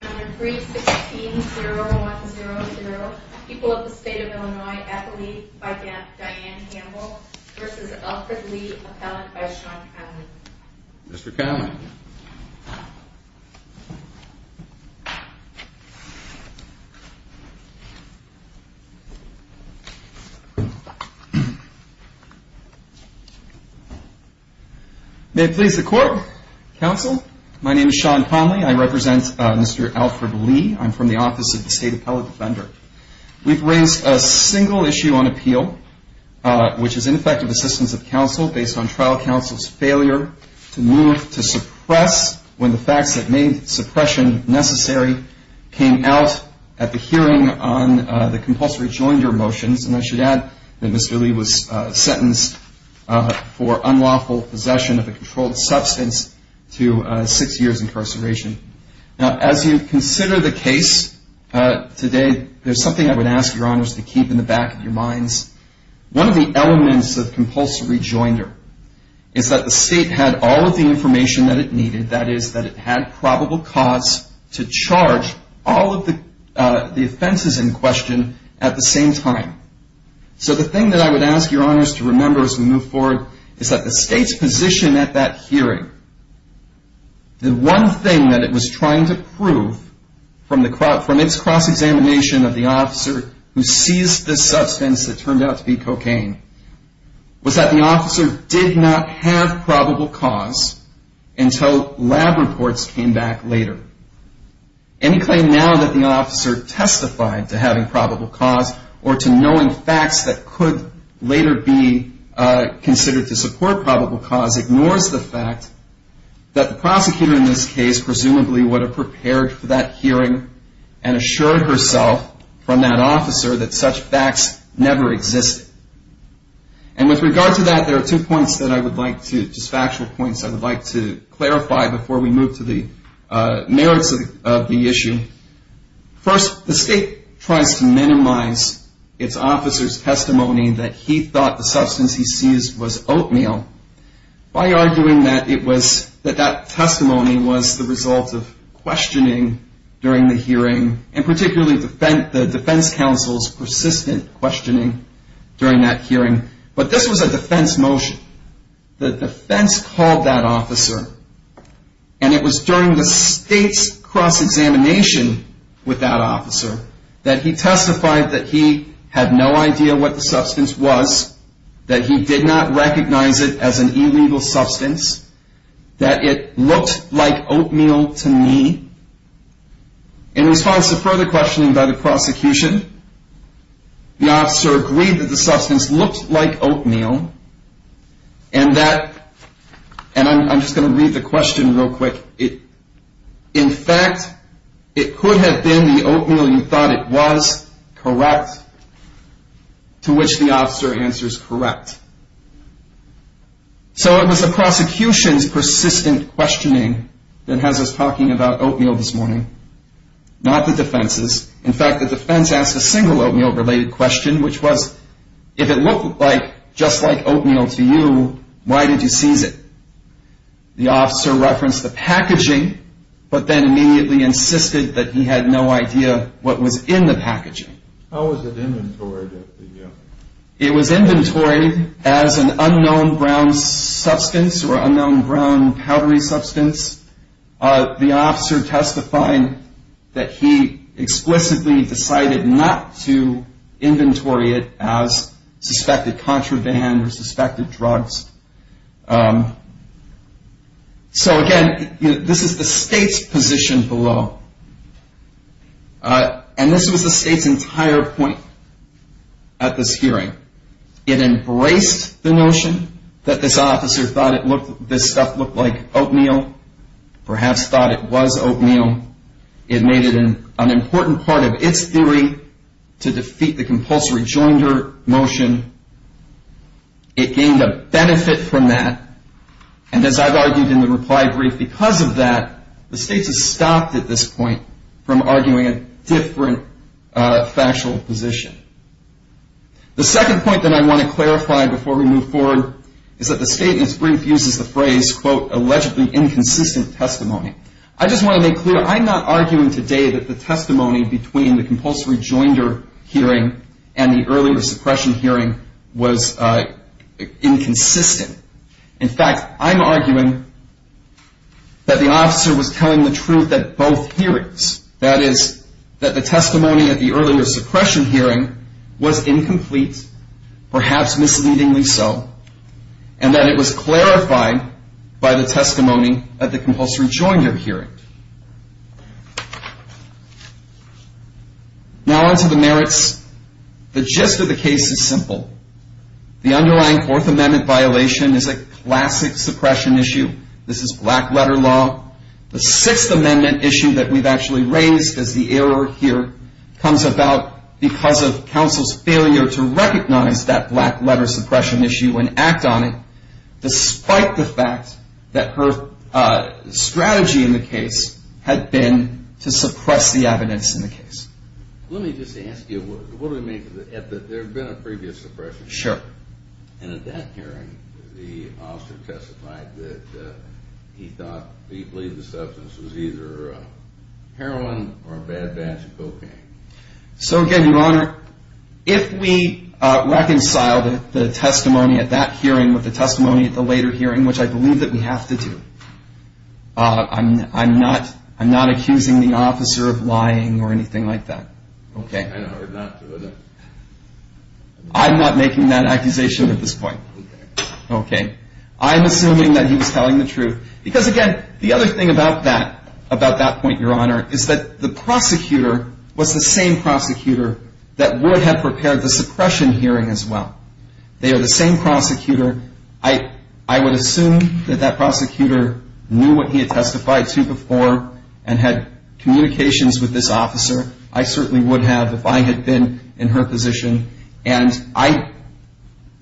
316-0100, People of the State of Illinois, athlete by Diane Hamble, v. Alfred Lee, appellant by Sean Conley. Mr. Conley. May it please the Court, Counsel, my name is Sean Conley, I represent Mr. Alfred Lee. I'm from the Office of the State Appellate Defender. We've raised a single issue on appeal, which is ineffective assistance of counsel based on trial counsel's failure to move to suppress when the facts that made suppression necessary came out at the hearing on the compulsory joinder motions. And I should add that Mr. Lee was sentenced for unlawful possession of a controlled substance to six years' incarceration. Now, as you consider the case today, there's something I would ask your honors to keep in the back of your minds. One of the elements of compulsory joinder is that the state had all of the information that it needed, that is that it had probable cause to charge all of the offenses in question at the same time. So the thing that I would ask your honors to remember as we move forward is that the state's position at that hearing, the one thing that it was trying to prove from its cross-examination of the officer who seized the substance that turned out to be cocaine, was that the officer did not have probable cause until lab reports came back later. Any claim now that the officer testified to having probable cause or to knowing facts that could later be considered to support probable cause ignores the fact that the prosecutor in this case presumably would have prepared for that hearing and assured herself from that officer that such facts never existed. And with regard to that, there are two points that I would like to, just factual points I would like to clarify before we move to the merits of the issue. First, the state tries to minimize its officer's testimony that he thought the substance he seized was oatmeal, by arguing that that testimony was the result of questioning during the hearing, and particularly the defense counsel's persistent questioning during that hearing. But this was a defense motion. The defense called that officer, and it was during the state's cross-examination with that officer that he testified that he had no idea what the substance was, that he did not recognize it as an illegal substance, that it looked like oatmeal to me. In response to further questioning by the prosecution, the officer agreed that the substance looked like oatmeal, and that, and I'm just going to read the question real quick. In fact, it could have been the oatmeal you thought it was, correct, to which the officer answers correct. So it was the prosecution's persistent questioning that has us talking about oatmeal this morning, not the defense's. In fact, the defense asked a single oatmeal-related question, which was, if it looked like, just like oatmeal to you, why did you seize it? The officer referenced the packaging, but then immediately insisted that he had no idea what was in the packaging. How was it inventoried? It was inventoried as an unknown brown substance or unknown brown powdery substance. The officer testifying that he explicitly decided not to inventory it as suspected contraband or suspected drugs. So, again, this is the state's position below, and this was the state's entire point at this hearing. It embraced the notion that this officer thought this stuff looked like oatmeal, perhaps thought it was oatmeal. It made it an important part of its theory to defeat the compulsory joinder motion. It gained a benefit from that, and as I've argued in the reply brief, because of that, the state has stopped at this point from arguing a different factual position. The second point that I want to clarify before we move forward is that the state in its brief uses the phrase, quote, allegedly inconsistent testimony. I just want to make clear, I'm not arguing today that the testimony between the compulsory joinder hearing and the earlier suppression hearing was inconsistent. In fact, I'm arguing that the officer was telling the truth at both hearings. That is, that the testimony at the earlier suppression hearing was incomplete, perhaps misleadingly so, and that it was clarified by the testimony at the compulsory joinder hearing. Now onto the merits. The gist of the case is simple. The underlying Fourth Amendment violation is a classic suppression issue. This is black letter law. The Sixth Amendment issue that we've actually raised as the error here comes about because of counsel's failure to recognize that black letter suppression issue and act on it, despite the fact that her strategy in the case had been to suppress the evidence in the case. Let me just ask you, what do we mean by that? There had been a previous suppression. Sure. And at that hearing, the officer testified that he thought, he believed the substance was either heroin or a bad batch of cocaine. So, again, Your Honor, if we reconciled the testimony at that hearing with the testimony at the later hearing, which I believe that we have to do, I'm not accusing the officer of lying or anything like that. Okay. I'm not making that accusation at this point. Okay. Okay. I'm assuming that he was telling the truth. Because, again, the other thing about that point, Your Honor, is that the prosecutor was the same prosecutor that would have prepared the suppression hearing as well. They are the same prosecutor. I would assume that that prosecutor knew what he had testified to before and had communications with this officer. I certainly would have if I had been in her position. And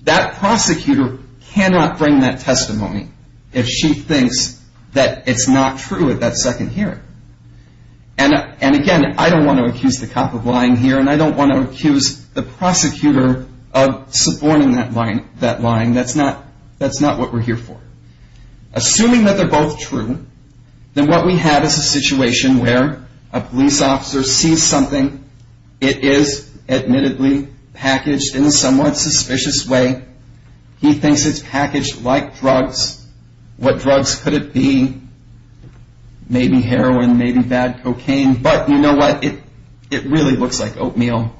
that prosecutor cannot bring that testimony if she thinks that it's not true at that second hearing. And, again, I don't want to accuse the cop of lying here, and I don't want to accuse the prosecutor of suborning that lying. That's not what we're here for. Assuming that they're both true, then what we have is a situation where a police officer sees something. It is, admittedly, packaged in a somewhat suspicious way. He thinks it's packaged like drugs. What drugs could it be? Maybe heroin, maybe bad cocaine. But you know what? It really looks like oatmeal.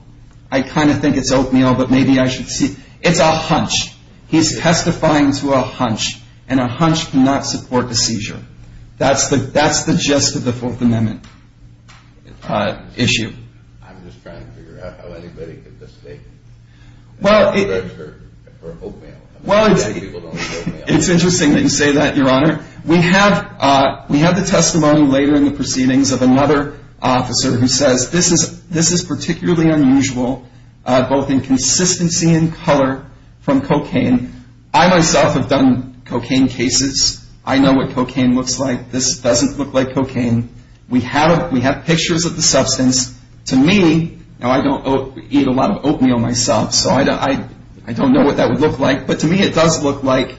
I kind of think it's oatmeal, but maybe I should see. It's a hunch. He's testifying to a hunch, and a hunch cannot support a seizure. That's the gist of the Fourth Amendment issue. I'm just trying to figure out how anybody could mistake drugs for oatmeal. It's interesting that you say that, Your Honor. We have the testimony later in the proceedings of another officer who says this is particularly unusual, both in consistency and color from cocaine. I myself have done cocaine cases. I know what cocaine looks like. This doesn't look like cocaine. We have pictures of the substance. To me, now I don't eat a lot of oatmeal myself, so I don't know what that would look like, but to me it does look like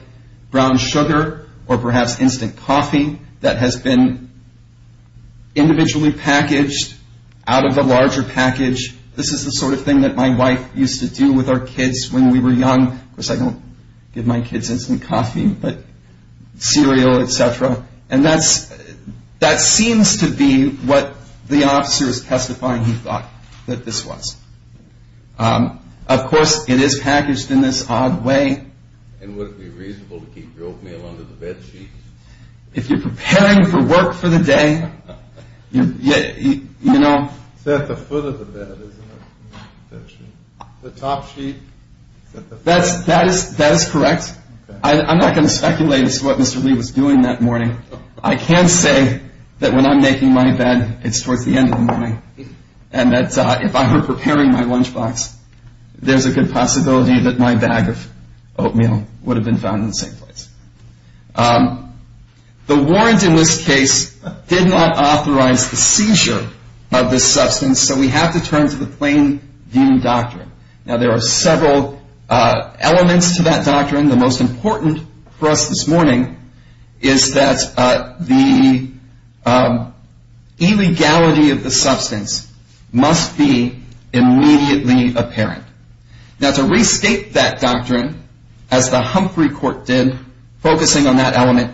brown sugar or perhaps instant coffee that has been individually packaged out of the larger package. This is the sort of thing that my wife used to do with our kids when we were young. Of course, I don't give my kids instant coffee, but cereal, et cetera. And that seems to be what the officer is testifying he thought that this was. Of course, it is packaged in this odd way. And would it be reasonable to keep oatmeal under the bed sheets? If you're preparing for work for the day, you know. It's at the foot of the bed, isn't it? The top sheet? That is correct. I'm not going to speculate as to what Mr. Lee was doing that morning. I can say that when I'm making my bed, it's towards the end of the morning, and that if I were preparing my lunchbox, there's a good possibility that my bag of oatmeal would have been found in the same place. The warrant in this case did not authorize the seizure of this substance, so we have to turn to the plain view doctrine. Now, there are several elements to that doctrine. The most important for us this morning is that the illegality of the substance must be immediately apparent. Now, to restate that doctrine, as the Humphrey court did, focusing on that element,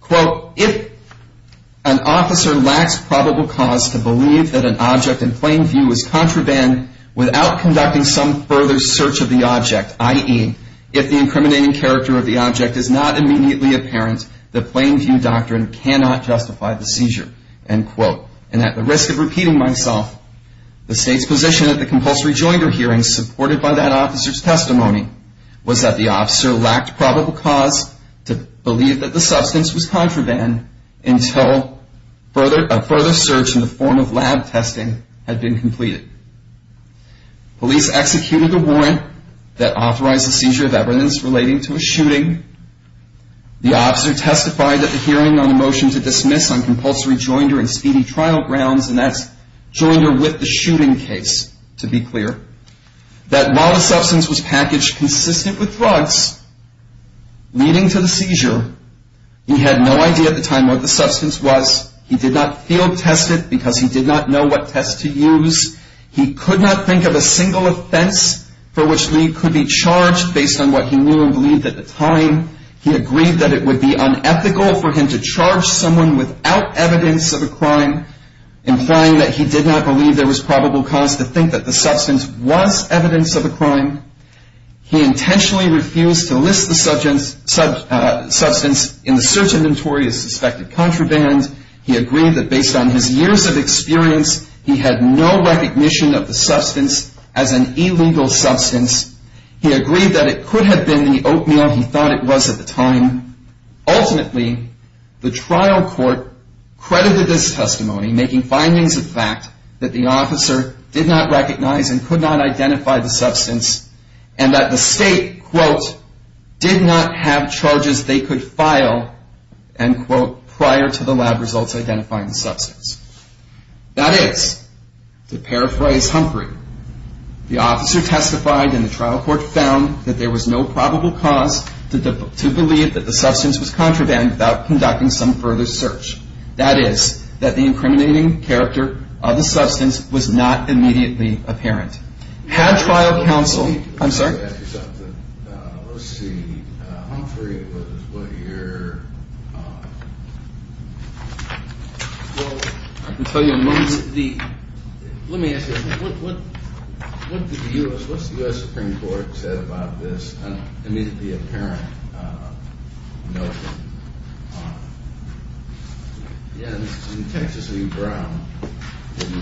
quote, if an officer lacks probable cause to believe that an object in plain view is contraband without conducting some further search of the object, i.e., if the incriminating character of the object is not immediately apparent, the plain view doctrine cannot justify the seizure, end quote. And at the risk of repeating myself, the state's position at the compulsory joinder hearing supported by that officer's testimony was that the officer lacked probable cause to believe that the substance was contraband until a further search in the form of lab testing had been completed. Police executed a warrant that authorized the seizure of evidence relating to a shooting. The officer testified at the hearing on a motion to dismiss on compulsory joinder and speedy trial grounds, and that's joinder with the shooting case, to be clear, that while the substance was packaged consistent with drugs leading to the seizure, he had no idea at the time what the substance was. He did not field test it because he did not know what test to use. He could not think of a single offense for which Lee could be charged based on what he knew and believed at the time. He agreed that it would be unethical for him to charge someone without evidence of a crime implying that he did not believe there was probable cause to think that the substance was evidence of a crime. He intentionally refused to list the substance in the search inventory as suspected contraband. He agreed that based on his years of experience, he had no recognition of the substance as an illegal substance. He agreed that it could have been the oatmeal he thought it was at the time. Ultimately, the trial court credited this testimony making findings of the fact that the officer did not recognize and could not identify the substance and that the state, quote, did not have charges they could file, end quote, prior to the lab results identifying the substance. That is, to paraphrase Humphrey, the officer testified and the trial court found that there was no probable cause to believe that the substance was contraband without conducting some further search. That is, that the incriminating character of the substance was not immediately apparent. Had trial counsel – I'm sorry? Let me ask you something. Let's see. Humphrey was what year? Well, I can tell you amongst the – let me ask you something. What did the U.S. – what's the U.S. Supreme Court said about this immediately apparent notion? In Texas v. Brown, didn't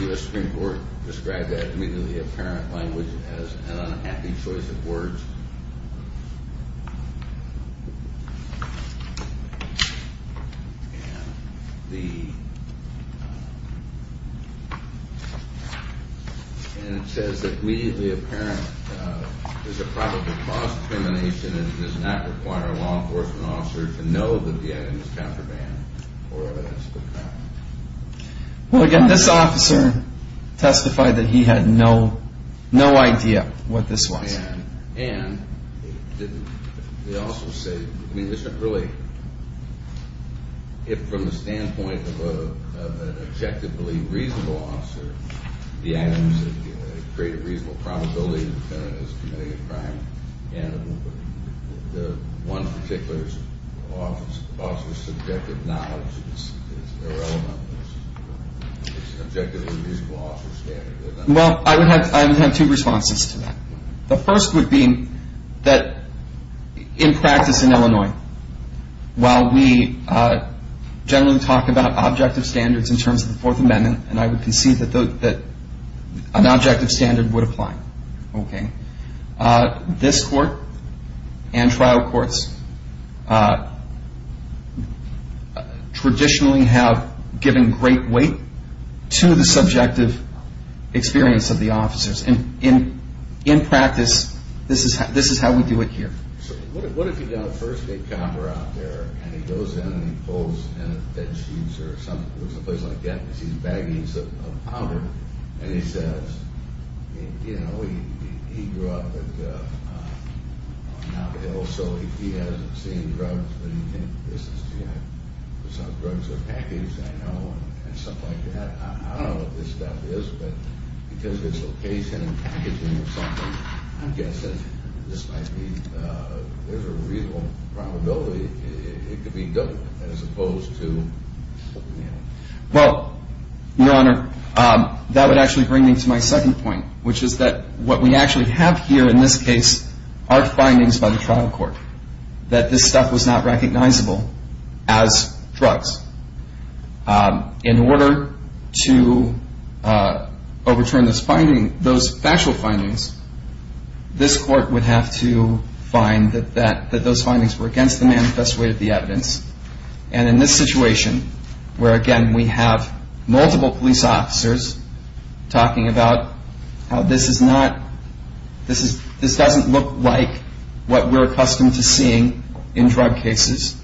the U.S. Supreme Court describe that immediately apparent language as an unhappy choice of words? And the – and it says that immediately apparent is a probable cause of discrimination and does not require a law enforcement officer to know that the item is contraband or evidence of a crime. Well, again, this officer testified that he had no idea what this was. And it didn't – it also said – I mean, it's not really – if from the standpoint of an objectively reasonable officer, the items that create a reasonable probability that the defendant is committing a crime, and the one particular officer's subjective knowledge is irrelevant. It's an objectively reasonable officer's standard. Well, I would have two responses to that. The first would be that in practice in Illinois, while we generally talk about objective standards in terms of the Fourth Amendment, and I would concede that an objective standard would apply, okay, this court and trial courts traditionally have given great weight to the subjective experience of the officers. And in practice, this is how we do it here. So what if you got a first-date copper out there, and he goes in and he pulls in a bed sheet or something, looks at a place like that and sees baggies of powder, and he says, you know, he grew up on Navajo, so he hasn't seen drugs, but he thinks this is, you know, some drugs are packaged, I know, and stuff like that. I don't know what this stuff is, but because of its location and packaging or something, I guess that this might be, there's a reasonable probability it could be dope as opposed to, you know. Well, Your Honor, that would actually bring me to my second point, which is that what we actually have here in this case are findings by the trial court that this stuff was not recognizable as drugs. In order to overturn those factual findings, this court would have to find that those findings were against the manifest way of the evidence. And in this situation where, again, we have multiple police officers talking about how this is not, this doesn't look like what we're accustomed to seeing in drug cases,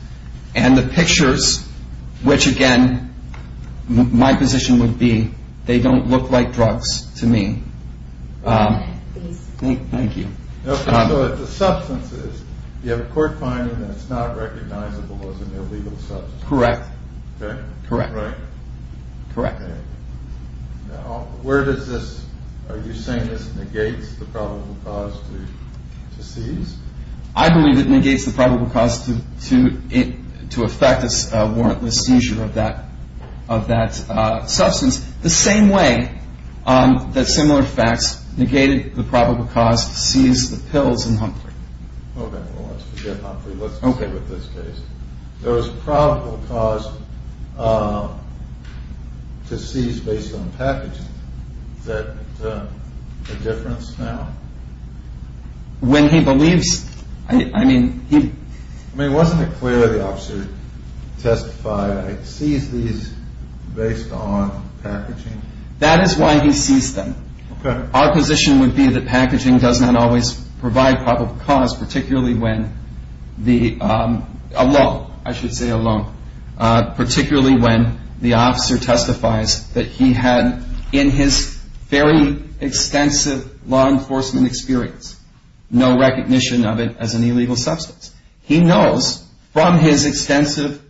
and the pictures, which, again, my position would be they don't look like drugs to me. Thank you. Okay, so if the substance is, you have a court finding that it's not recognizable as an illegal substance. Correct. Okay. Correct. Right. Correct. Okay. Now, where does this, are you saying this negates the probable cause to seize? I believe it negates the probable cause to effect a warrantless seizure of that substance, the same way that similar facts negated the probable cause to seize the pills in Humphrey. Okay. Well, let's forget Humphrey. Okay. Let's stay with this case. There was a probable cause to seize based on packaging. Is that a difference now? When he believes, I mean, he- I mean, wasn't it clear the officer testified seize these based on packaging? That is why he seized them. Okay. Our position would be that packaging does not always provide probable cause, particularly when the, alone, I should say alone, particularly when the officer testifies that he had in his very extensive law enforcement experience no recognition of it as an illegal substance. He knows from his extensive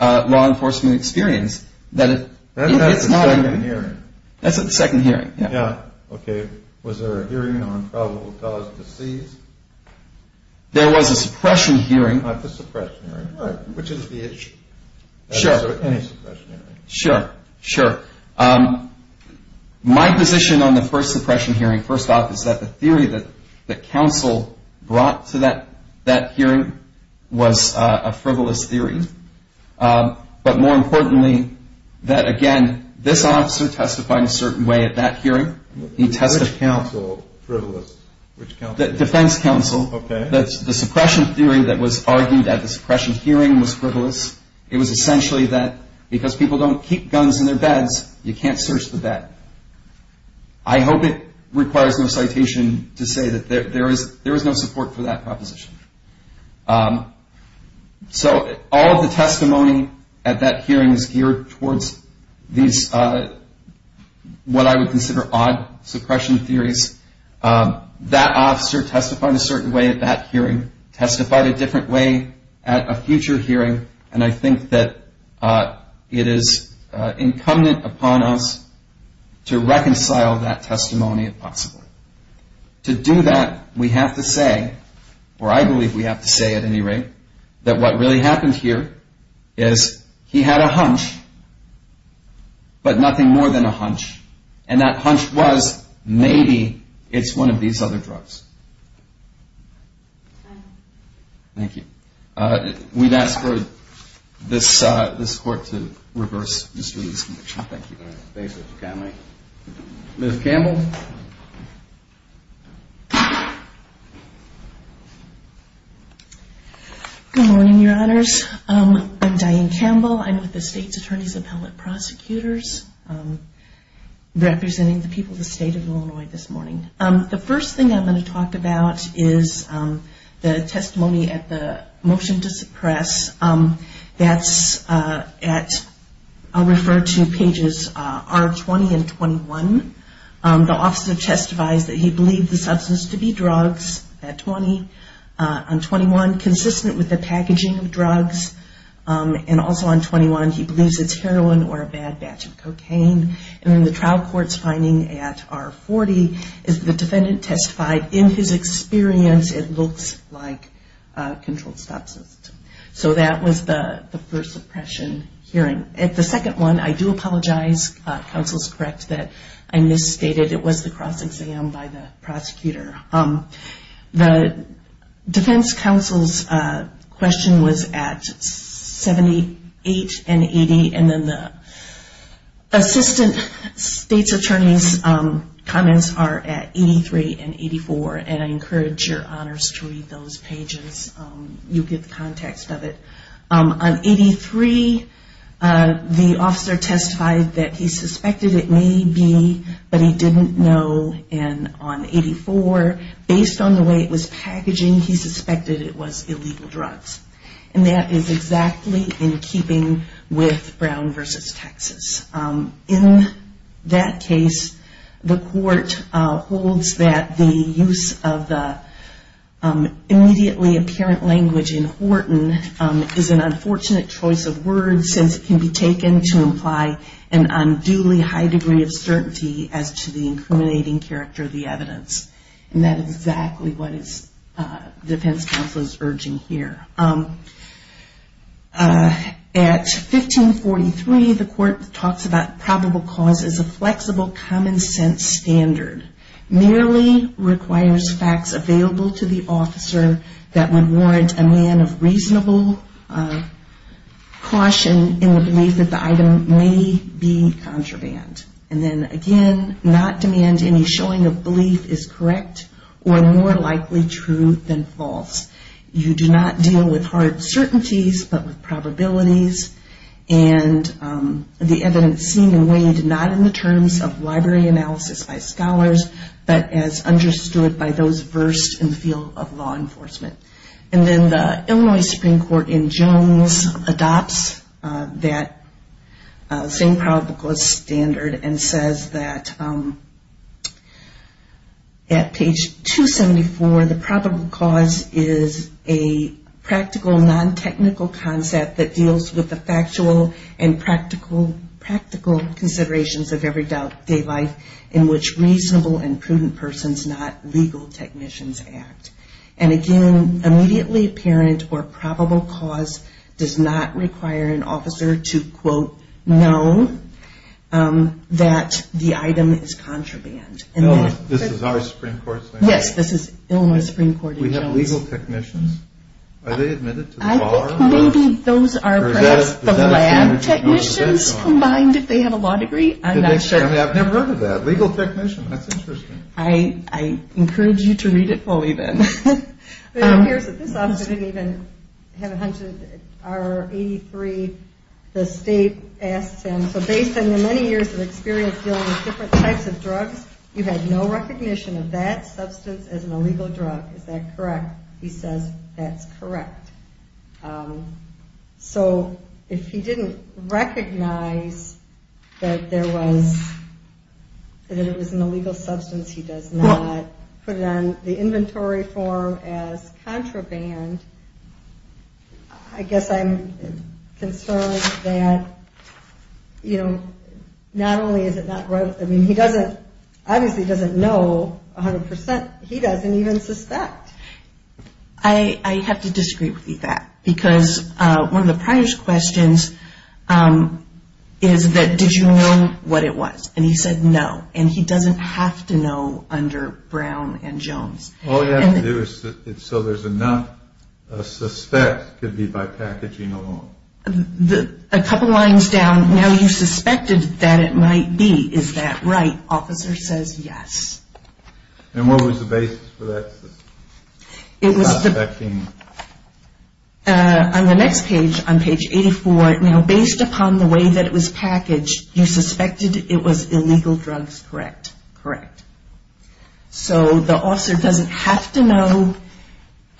law enforcement experience that it's not- That's at the second hearing. That's at the second hearing. Yeah. Yeah. Okay. Was there a hearing on probable cause to seize? There was a suppression hearing. All right. Which is the issue? Sure. Any suppression hearing? Sure. Sure. My position on the first suppression hearing, first off, is that the theory that the counsel brought to that hearing was a frivolous theory. But more importantly, that, again, this officer testified a certain way at that hearing. Which counsel? Frivolous. Which counsel? Defense counsel. Okay. The suppression theory that was argued at the suppression hearing was frivolous. It was essentially that because people don't keep guns in their beds, you can't search the bed. I hope it requires no citation to say that there is no support for that proposition. So all of the testimony at that hearing is geared towards these what I would consider odd suppression theories. That officer testified a certain way at that hearing, testified a different way at a future hearing, and I think that it is incumbent upon us to reconcile that testimony if possible. To do that, we have to say, or I believe we have to say at any rate, that what really happened here is he had a hunch, but nothing more than a hunch. And that hunch was, maybe it's one of these other drugs. Thank you. We'd ask for this Court to reverse. Thank you. Thank you, Mr. Connelly. Ms. Campbell. Good morning, Your Honors. I'm Diane Campbell. I'm with the State's Attorney's Appellate Prosecutors, representing the people of the State of Illinois this morning. The first thing I'm going to talk about is the testimony at the motion to suppress. That's at, I'll refer to pages R20 and 21. The officer testified that he believed the substance to be drugs at 20 and 21, consistent with the packaging of drugs. And also on 21, he believes it's heroin or a bad batch of cocaine. And in the trial court's finding at R40, the defendant testified, in his experience, it looks like controlled sepsis. So that was the first suppression hearing. The second one, I do apologize, counsel is correct that I misstated, it was the cross-exam by the prosecutor. The defense counsel's question was at 78 and 80, and then the assistant State's Attorney's comments are at 83 and 84. And I encourage your honors to read those pages. You'll get the context of it. On 83, the officer testified that he suspected it may be, but he didn't know. And on 84, based on the way it was packaging, he suspected it was illegal drugs. And that is exactly in keeping with Brown v. Texas. In that case, the court holds that the use of the immediately apparent language in Horton is an unfortunate choice of words, since it can be taken to imply an unduly high degree of certainty as to the incriminating character of the evidence. And that is exactly what the defense counsel is urging here. At 1543, the court talks about probable cause as a flexible, common-sense standard. Merely requires facts available to the officer that would warrant a man of reasonable caution in the belief that the item may be contraband. And then again, not demand any showing of belief is correct or more likely true than false. You do not deal with hard certainties, but with probabilities. And the evidence seen and weighed not in the terms of library analysis by scholars, but as understood by those versed in the field of law enforcement. And then the Illinois Supreme Court in Jones adopts that same probable cause standard and says that at page 274, the probable cause is a practical, non-technical concept that deals with the factual and practical considerations of everyday life, in which reasonable and prudent persons, not legal technicians, act. And again, immediately apparent or probable cause does not require an officer to, quote, know that the item is contraband. No, this is our Supreme Court saying that? Yes, this is Illinois Supreme Court in Jones. We have legal technicians? Are they admitted to the bar? I think maybe those are perhaps the lab technicians combined if they have a law degree. I'm not sure. I've never heard of that. Legal technician. That's interesting. I encourage you to read it fully then. It appears that this officer didn't even have a hunch. R83, the state asks him, so based on your many years of experience dealing with different types of drugs, you've had no recognition of that substance as an illegal drug. Is that correct? He says, that's correct. So, if he didn't recognize that there was, that it was an illegal substance, he does not put it on the inventory form as contraband, I guess I'm concerned that, you know, not only is it not, I mean, he doesn't, obviously he doesn't know 100%, he doesn't even suspect. I have to disagree with you on that, because one of the prior questions is that, did you know what it was? And he said no, and he doesn't have to know under Brown and Jones. All you have to do is, so there's enough, a suspect could be by packaging alone. A couple lines down, now you suspected that it might be, is that right? Officer says yes. And what was the basis for that? It was, on the next page, on page 84, now based upon the way that it was packaged, you suspected it was illegal drugs, correct? Correct. So, the officer doesn't have to know.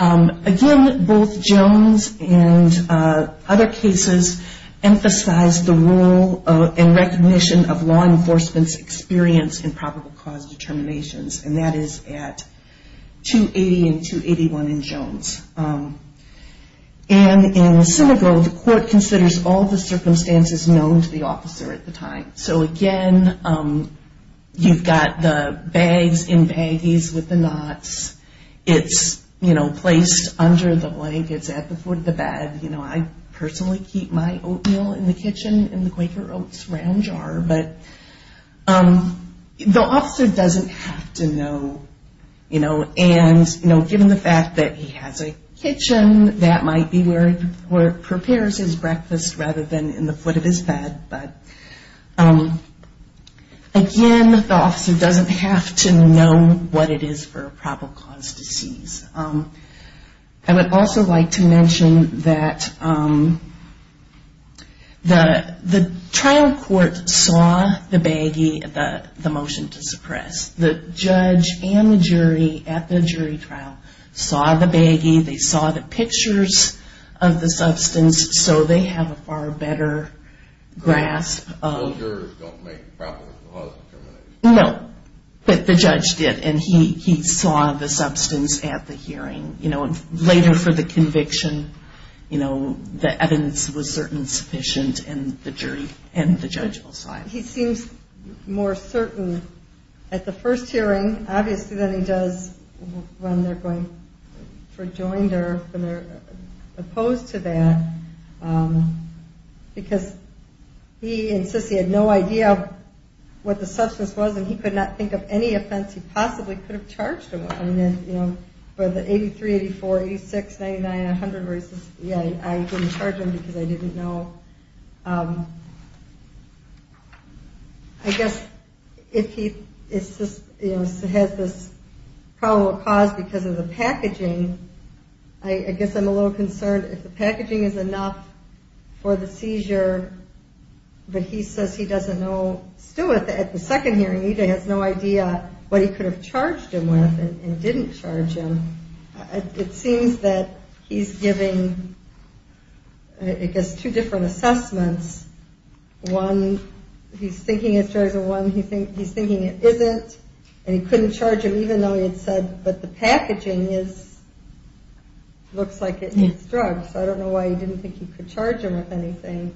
Again, both Jones and other cases emphasize the role and recognition of law enforcement's experience in probable cause determinations, and that is at 280 and 281 in Jones. And in Senegal, the court considers all the circumstances known to the officer at the time. So, again, you've got the bags in baggies with the knots. It's, you know, placed under the blankets at the foot of the bed. You know, I personally keep my oatmeal in the kitchen in the Quaker Oats round jar. But the officer doesn't have to know, you know, and, you know, given the fact that he has a kitchen, that might be where he prepares his breakfast rather than in the foot of his bed. But, again, the officer doesn't have to know what it is for a probable cause to seize. I would also like to mention that the trial court saw the baggie, the motion to suppress. The judge and the jury at the jury trial saw the baggie. They saw the pictures of the substance, so they have a far better grasp. Those jurors don't make probable cause determinations. No, but the judge did, and he saw the substance at the hearing. You know, later for the conviction, you know, the evidence was certain sufficient, and the jury and the judge will decide. He seems more certain at the first hearing, obviously, than he does when they're going for joinder, when they're opposed to that, because he insists he had no idea what the substance was, and he could not think of any offense he possibly could have charged him with. For the 83, 84, 86, 99, 100, yeah, I didn't charge him because I didn't know. I guess if he has this probable cause because of the packaging, I guess I'm a little concerned. If the packaging is enough for the seizure, but he says he doesn't know. Still, at the second hearing, he has no idea what he could have charged him with and didn't charge him. It seems that he's giving, I guess, two different assessments. One, he's thinking it's drugs, and one, he's thinking it isn't, and he couldn't charge him even though he had said, but the packaging looks like it is drugs. I don't know why he didn't think he could charge him with anything,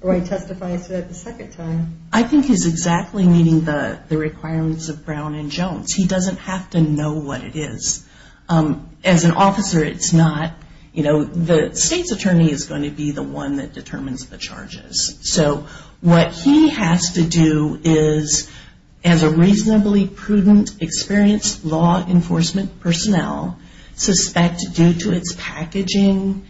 or why he testifies to that the second time. I think he's exactly meeting the requirements of Brown and Jones. He doesn't have to know what it is. As an officer, it's not. The state's attorney is going to be the one that determines the charges, so what he has to do is, as a reasonably prudent, experienced law enforcement personnel, suspect due to its packaging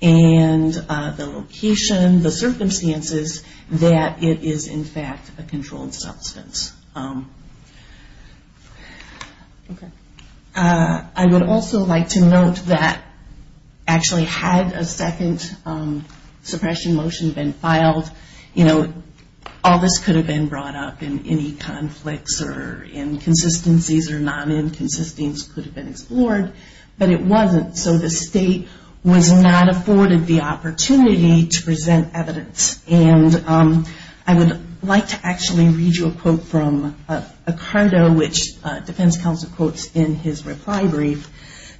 and the location, the circumstances, that it is, in fact, a controlled substance. I would also like to note that, actually, had a second suppression motion been filed, all this could have been brought up, and any conflicts or inconsistencies or non-inconsistence could have been explored, but it wasn't, so the state was not afforded the opportunity to present evidence. And I would like to actually read you a quote from Ocardo, which defense counsel quotes in his reply brief,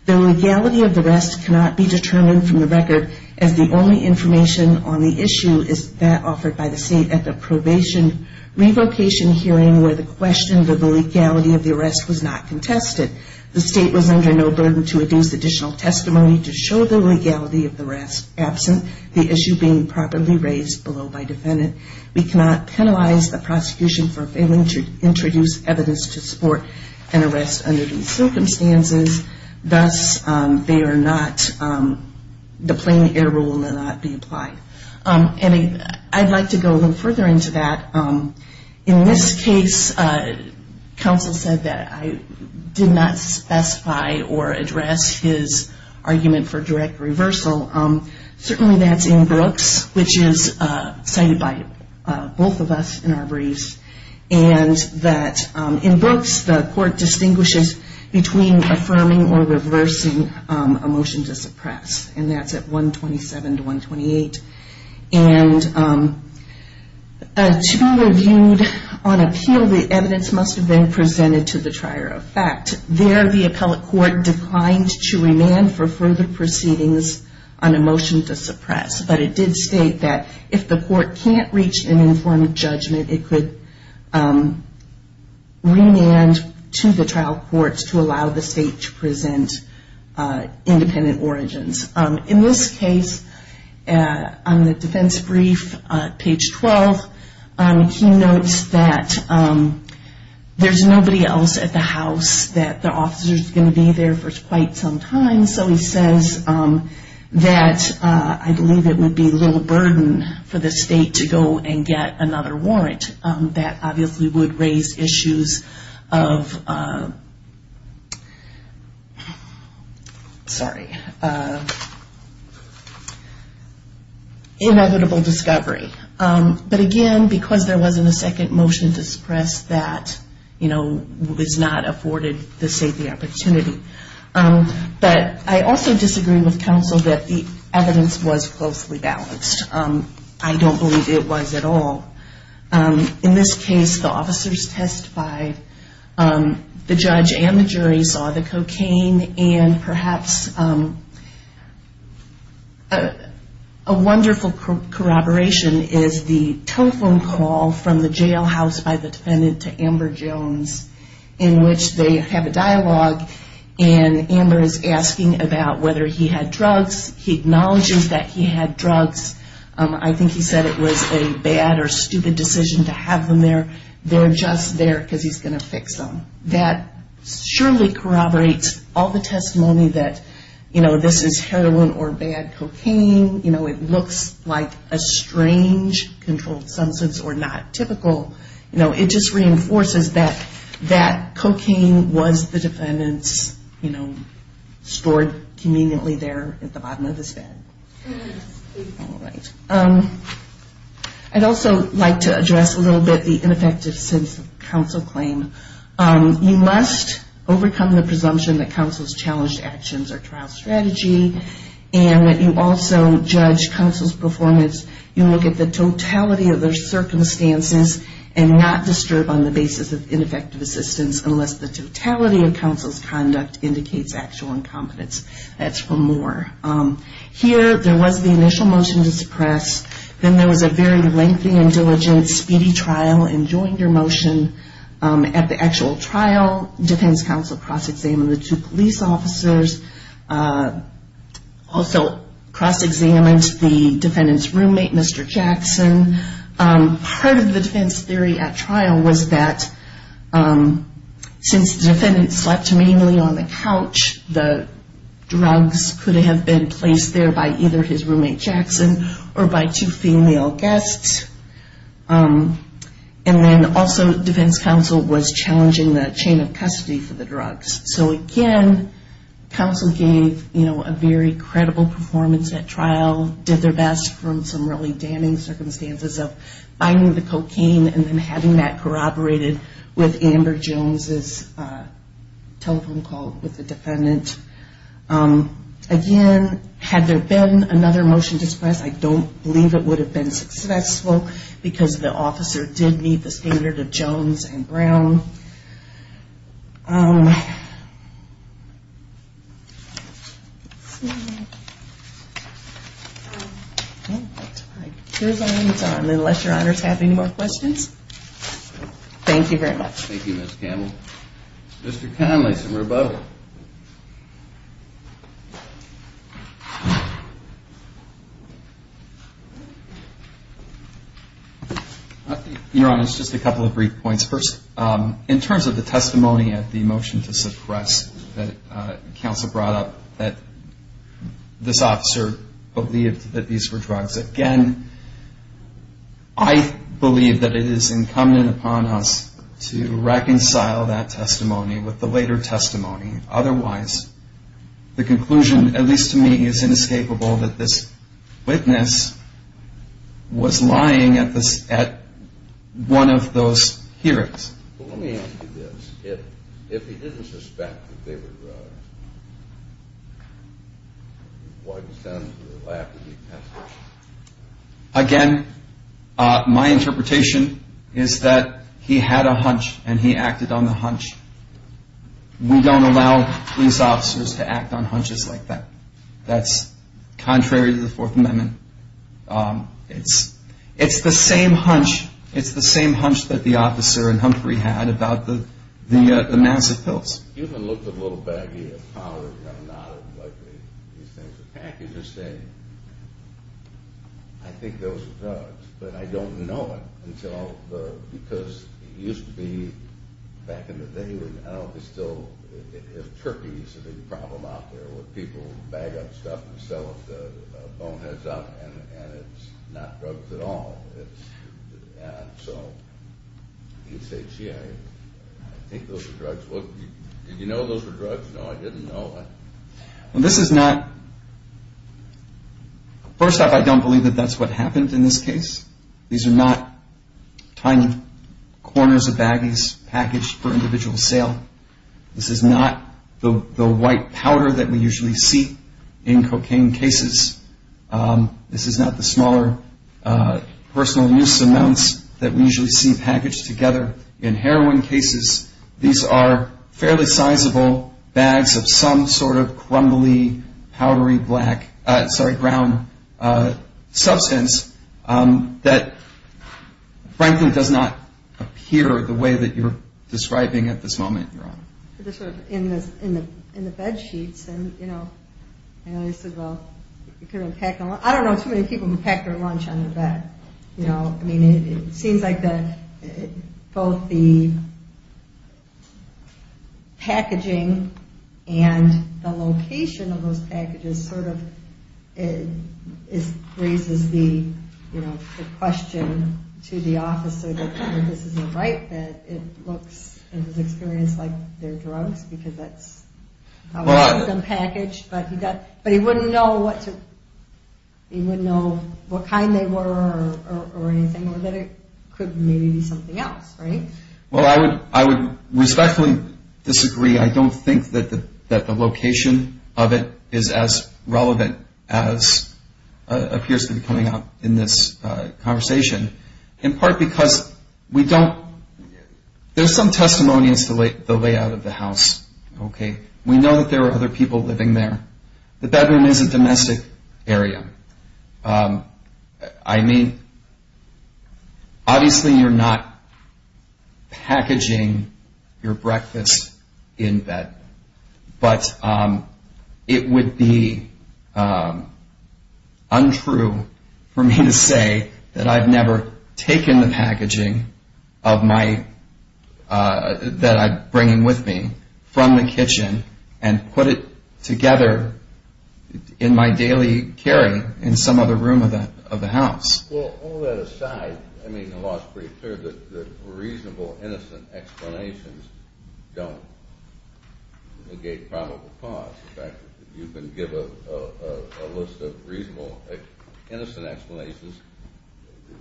The legality of the arrest cannot be determined from the record, as the only information on the issue is that offered by the state at the probation revocation hearing where the question of the legality of the arrest was not contested. The state was under no burden to adduce additional testimony to show the legality of the arrest absent, the issue being properly raised below by defendant. We cannot penalize the prosecution for failing to introduce evidence to support an arrest under these circumstances. Thus, they are not, the plain error will not be applied. And I'd like to go a little further into that. In this case, counsel said that I did not specify or address his argument for direct reversal. Certainly that's in Brooks, which is cited by both of us in our briefs. And that in Brooks, the court distinguishes between affirming or reversing a motion to suppress, and that's at 127 to 128. And to be reviewed on appeal, the evidence must have been presented to the trier of fact. There, the appellate court declined to remand for further proceedings on a motion to suppress. But it did state that if the court can't reach an informed judgment, it could remand to the trial courts to allow the state to present independent origins. In this case, on the defense brief, page 12, he notes that there's nobody else at the house, that the officer's going to be there for quite some time. So he says that I believe it would be little burden for the state to go and get another warrant. That obviously would raise issues of, sorry, inevitable discovery. But again, because there wasn't a second motion to suppress, that, you know, was not afforded the safety opportunity. But I also disagree with counsel that the evidence was closely balanced. I don't believe it was at all. In this case, the officers testified. The judge and the jury saw the cocaine. And perhaps a wonderful corroboration is the telephone call from the jailhouse by the defendant to Amber Jones, in which they have a dialogue, and Amber is asking about whether he had drugs. He acknowledges that he had drugs. I think he said it was a bad or stupid decision to have them there. They're just there because he's going to fix them. That surely corroborates all the testimony that, you know, this is heroin or bad cocaine. You know, it looks like a strange controlled substance or not typical. You know, it just reinforces that that cocaine was the defendant's, you know, stored conveniently there at the bottom of his bed. All right. I'd also like to address a little bit the ineffective sense of counsel claim. You must overcome the presumption that counsel's challenged actions are trial strategy and that you also judge counsel's performance. You look at the totality of their circumstances and not disturb on the basis of ineffective assistance unless the totality of counsel's conduct indicates actual incompetence. That's for more. Here, there was the initial motion to suppress. Then there was a very lengthy and diligent, speedy trial. And during your motion at the actual trial, defense counsel cross-examined the two police officers, also cross-examined the defendant's roommate, Mr. Jackson. Part of the defense theory at trial was that since the defendant slept mainly on the couch, the drugs could have been placed there by either his roommate Jackson or by two female guests. And then also defense counsel was challenging the chain of custody for the drugs. So again, counsel gave a very credible performance at trial, did their best from some really damning circumstances of finding the cocaine and then having that corroborated with Amber Jones' telephone call with the defendant. Again, had there been another motion to suppress, I don't believe it would have been successful because the officer did meet the standard of Jones and Brown. Here's our time, unless your honors have any more questions. Thank you very much. Thank you, Ms. Campbell. Mr. Connelly, some rebuttal. Your honors, just a couple of brief points. First, in terms of the testimony at the motion to suppress that counsel brought up, that this officer believed that these were drugs. Again, I believe that it is incumbent upon us to reconcile that testimony with the later testimony. Otherwise, the conclusion, at least to me, is inescapable that this witness was lying at one of those hearings. Let me ask you this. If he didn't suspect that they were drugs, why did he send them to the lab to be tested? Again, my interpretation is that he had a hunch and he acted on the hunch. We don't allow police officers to act on hunches like that. That's contrary to the Fourth Amendment. It's the same hunch that the officer in Humphrey had about the massive pills. He even looked a little baggy and powdered and got knotted like these things are packaged. He said, I think those are drugs, but I don't know it because it used to be, back in the day, I don't know if it's still, if turkeys are the problem out there where people bag up stuff and sell it boneheads up and it's not drugs at all. So he said, gee, I think those are drugs. Did you know those were drugs? No, I didn't know. Well, this is not, first off, I don't believe that that's what happened in this case. These are not tiny corners of baggies packaged for individual sale. This is not the white powder that we usually see in cocaine cases. This is not the smaller personal use amounts that we usually see packaged together in heroin cases. These are fairly sizable bags of some sort of crumbly, powdery black, sorry, brown substance that frankly does not appear the way that you're describing at this moment, Your Honor. They're sort of in the bed sheets. I don't know too many people who packed their lunch on their bed. It seems like both the packaging and the location of those packages sort of raises the question to the officer that this isn't right, that it looks, in his experience, like they're drugs because that's how they're packaged. But he wouldn't know what kind they were or anything or that it could maybe be something else, right? Well, I would respectfully disagree. I don't think that the location of it is as relevant as appears to be coming up in this conversation, in part because we don't, there's some testimony as to the layout of the house, okay? We know that there are other people living there. The bedroom is a domestic area. I mean, obviously you're not packaging your breakfast in bed, but it would be untrue for me to say that I've never taken the packaging that I'm bringing with me from the kitchen and put it together in my daily carry in some other room of the house. Well, all that aside, I mean, the law is pretty clear that reasonable, innocent explanations don't negate probable cause. In fact, if you can give a list of reasonable, innocent explanations,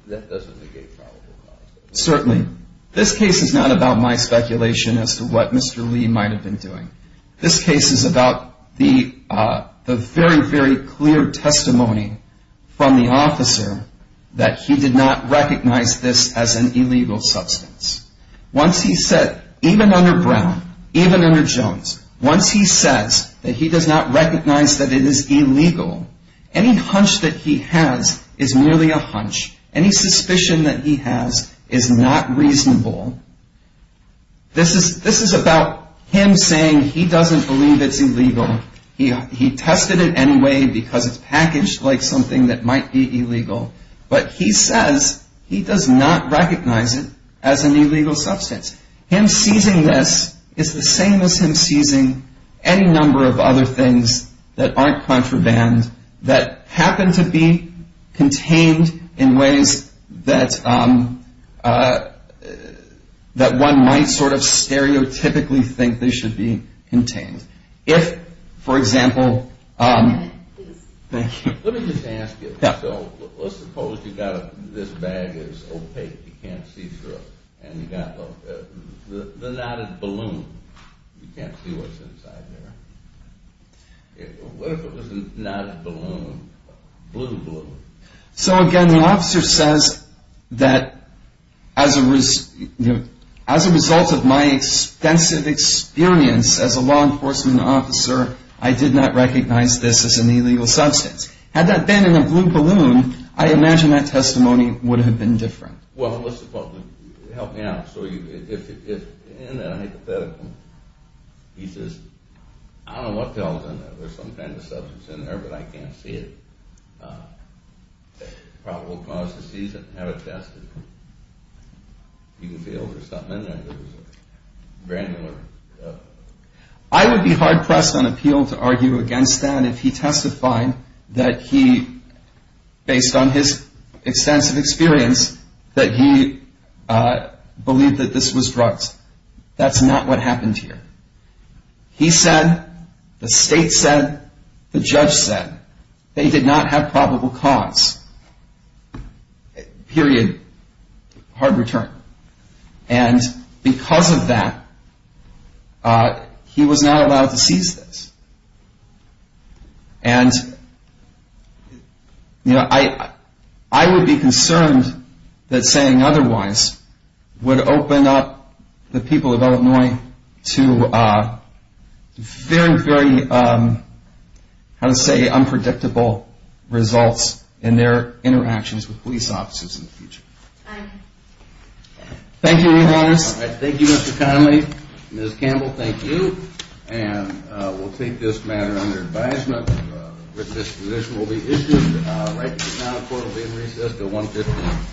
that doesn't negate probable cause. Certainly. This case is not about my speculation as to what Mr. Lee might have been doing. This case is about the very, very clear testimony from the officer that he did not recognize this as an illegal substance. Once he said, even under Brown, even under Jones, once he says that he does not recognize that it is illegal, any hunch that he has is merely a hunch. Any suspicion that he has is not reasonable. This is about him saying he doesn't believe it's illegal. He tested it anyway because it's packaged like something that might be illegal, but he says he does not recognize it as an illegal substance. Him seizing this is the same as him seizing any number of other things that aren't contraband that happen to be contained in ways that one might sort of stereotypically think they should be contained. If, for example, thank you. Let me just ask you. So let's suppose you've got this bag that's opaque, you can't see through it, and you've got the knotted balloon. You can't see what's inside there. What if it was a knotted balloon, blue balloon? So again, the officer says that as a result of my extensive experience as a law enforcement officer, I did not recognize this as an illegal substance. Had that been in a blue balloon, I imagine that testimony would have been different. Well, let's suppose. Help me out. So if in a hypothetical, he says, I don't know what the hell is in there. There's some kind of substance in there, but I can't see it. It probably will cause a seizure. Have it tested. You can feel there's something in there that was granular. I would be hard-pressed on appeal to argue against that if he testified that he, based on his extensive experience, that he believed that this was drugs. That's not what happened here. He said, the state said, the judge said that he did not have probable cause. Period. Hard return. And because of that, he was not allowed to seize this. And I would be concerned that saying otherwise would open up the people of Illinois to very, very, how to say, unpredictable results in their interactions with police officers in the future. Thank you, your Honor. Thank you, Mr. Connelly. Ms. Campbell, thank you. And we'll take this matter under advisement that this position will be issued. Right now the court will be in recess until 1 p.m.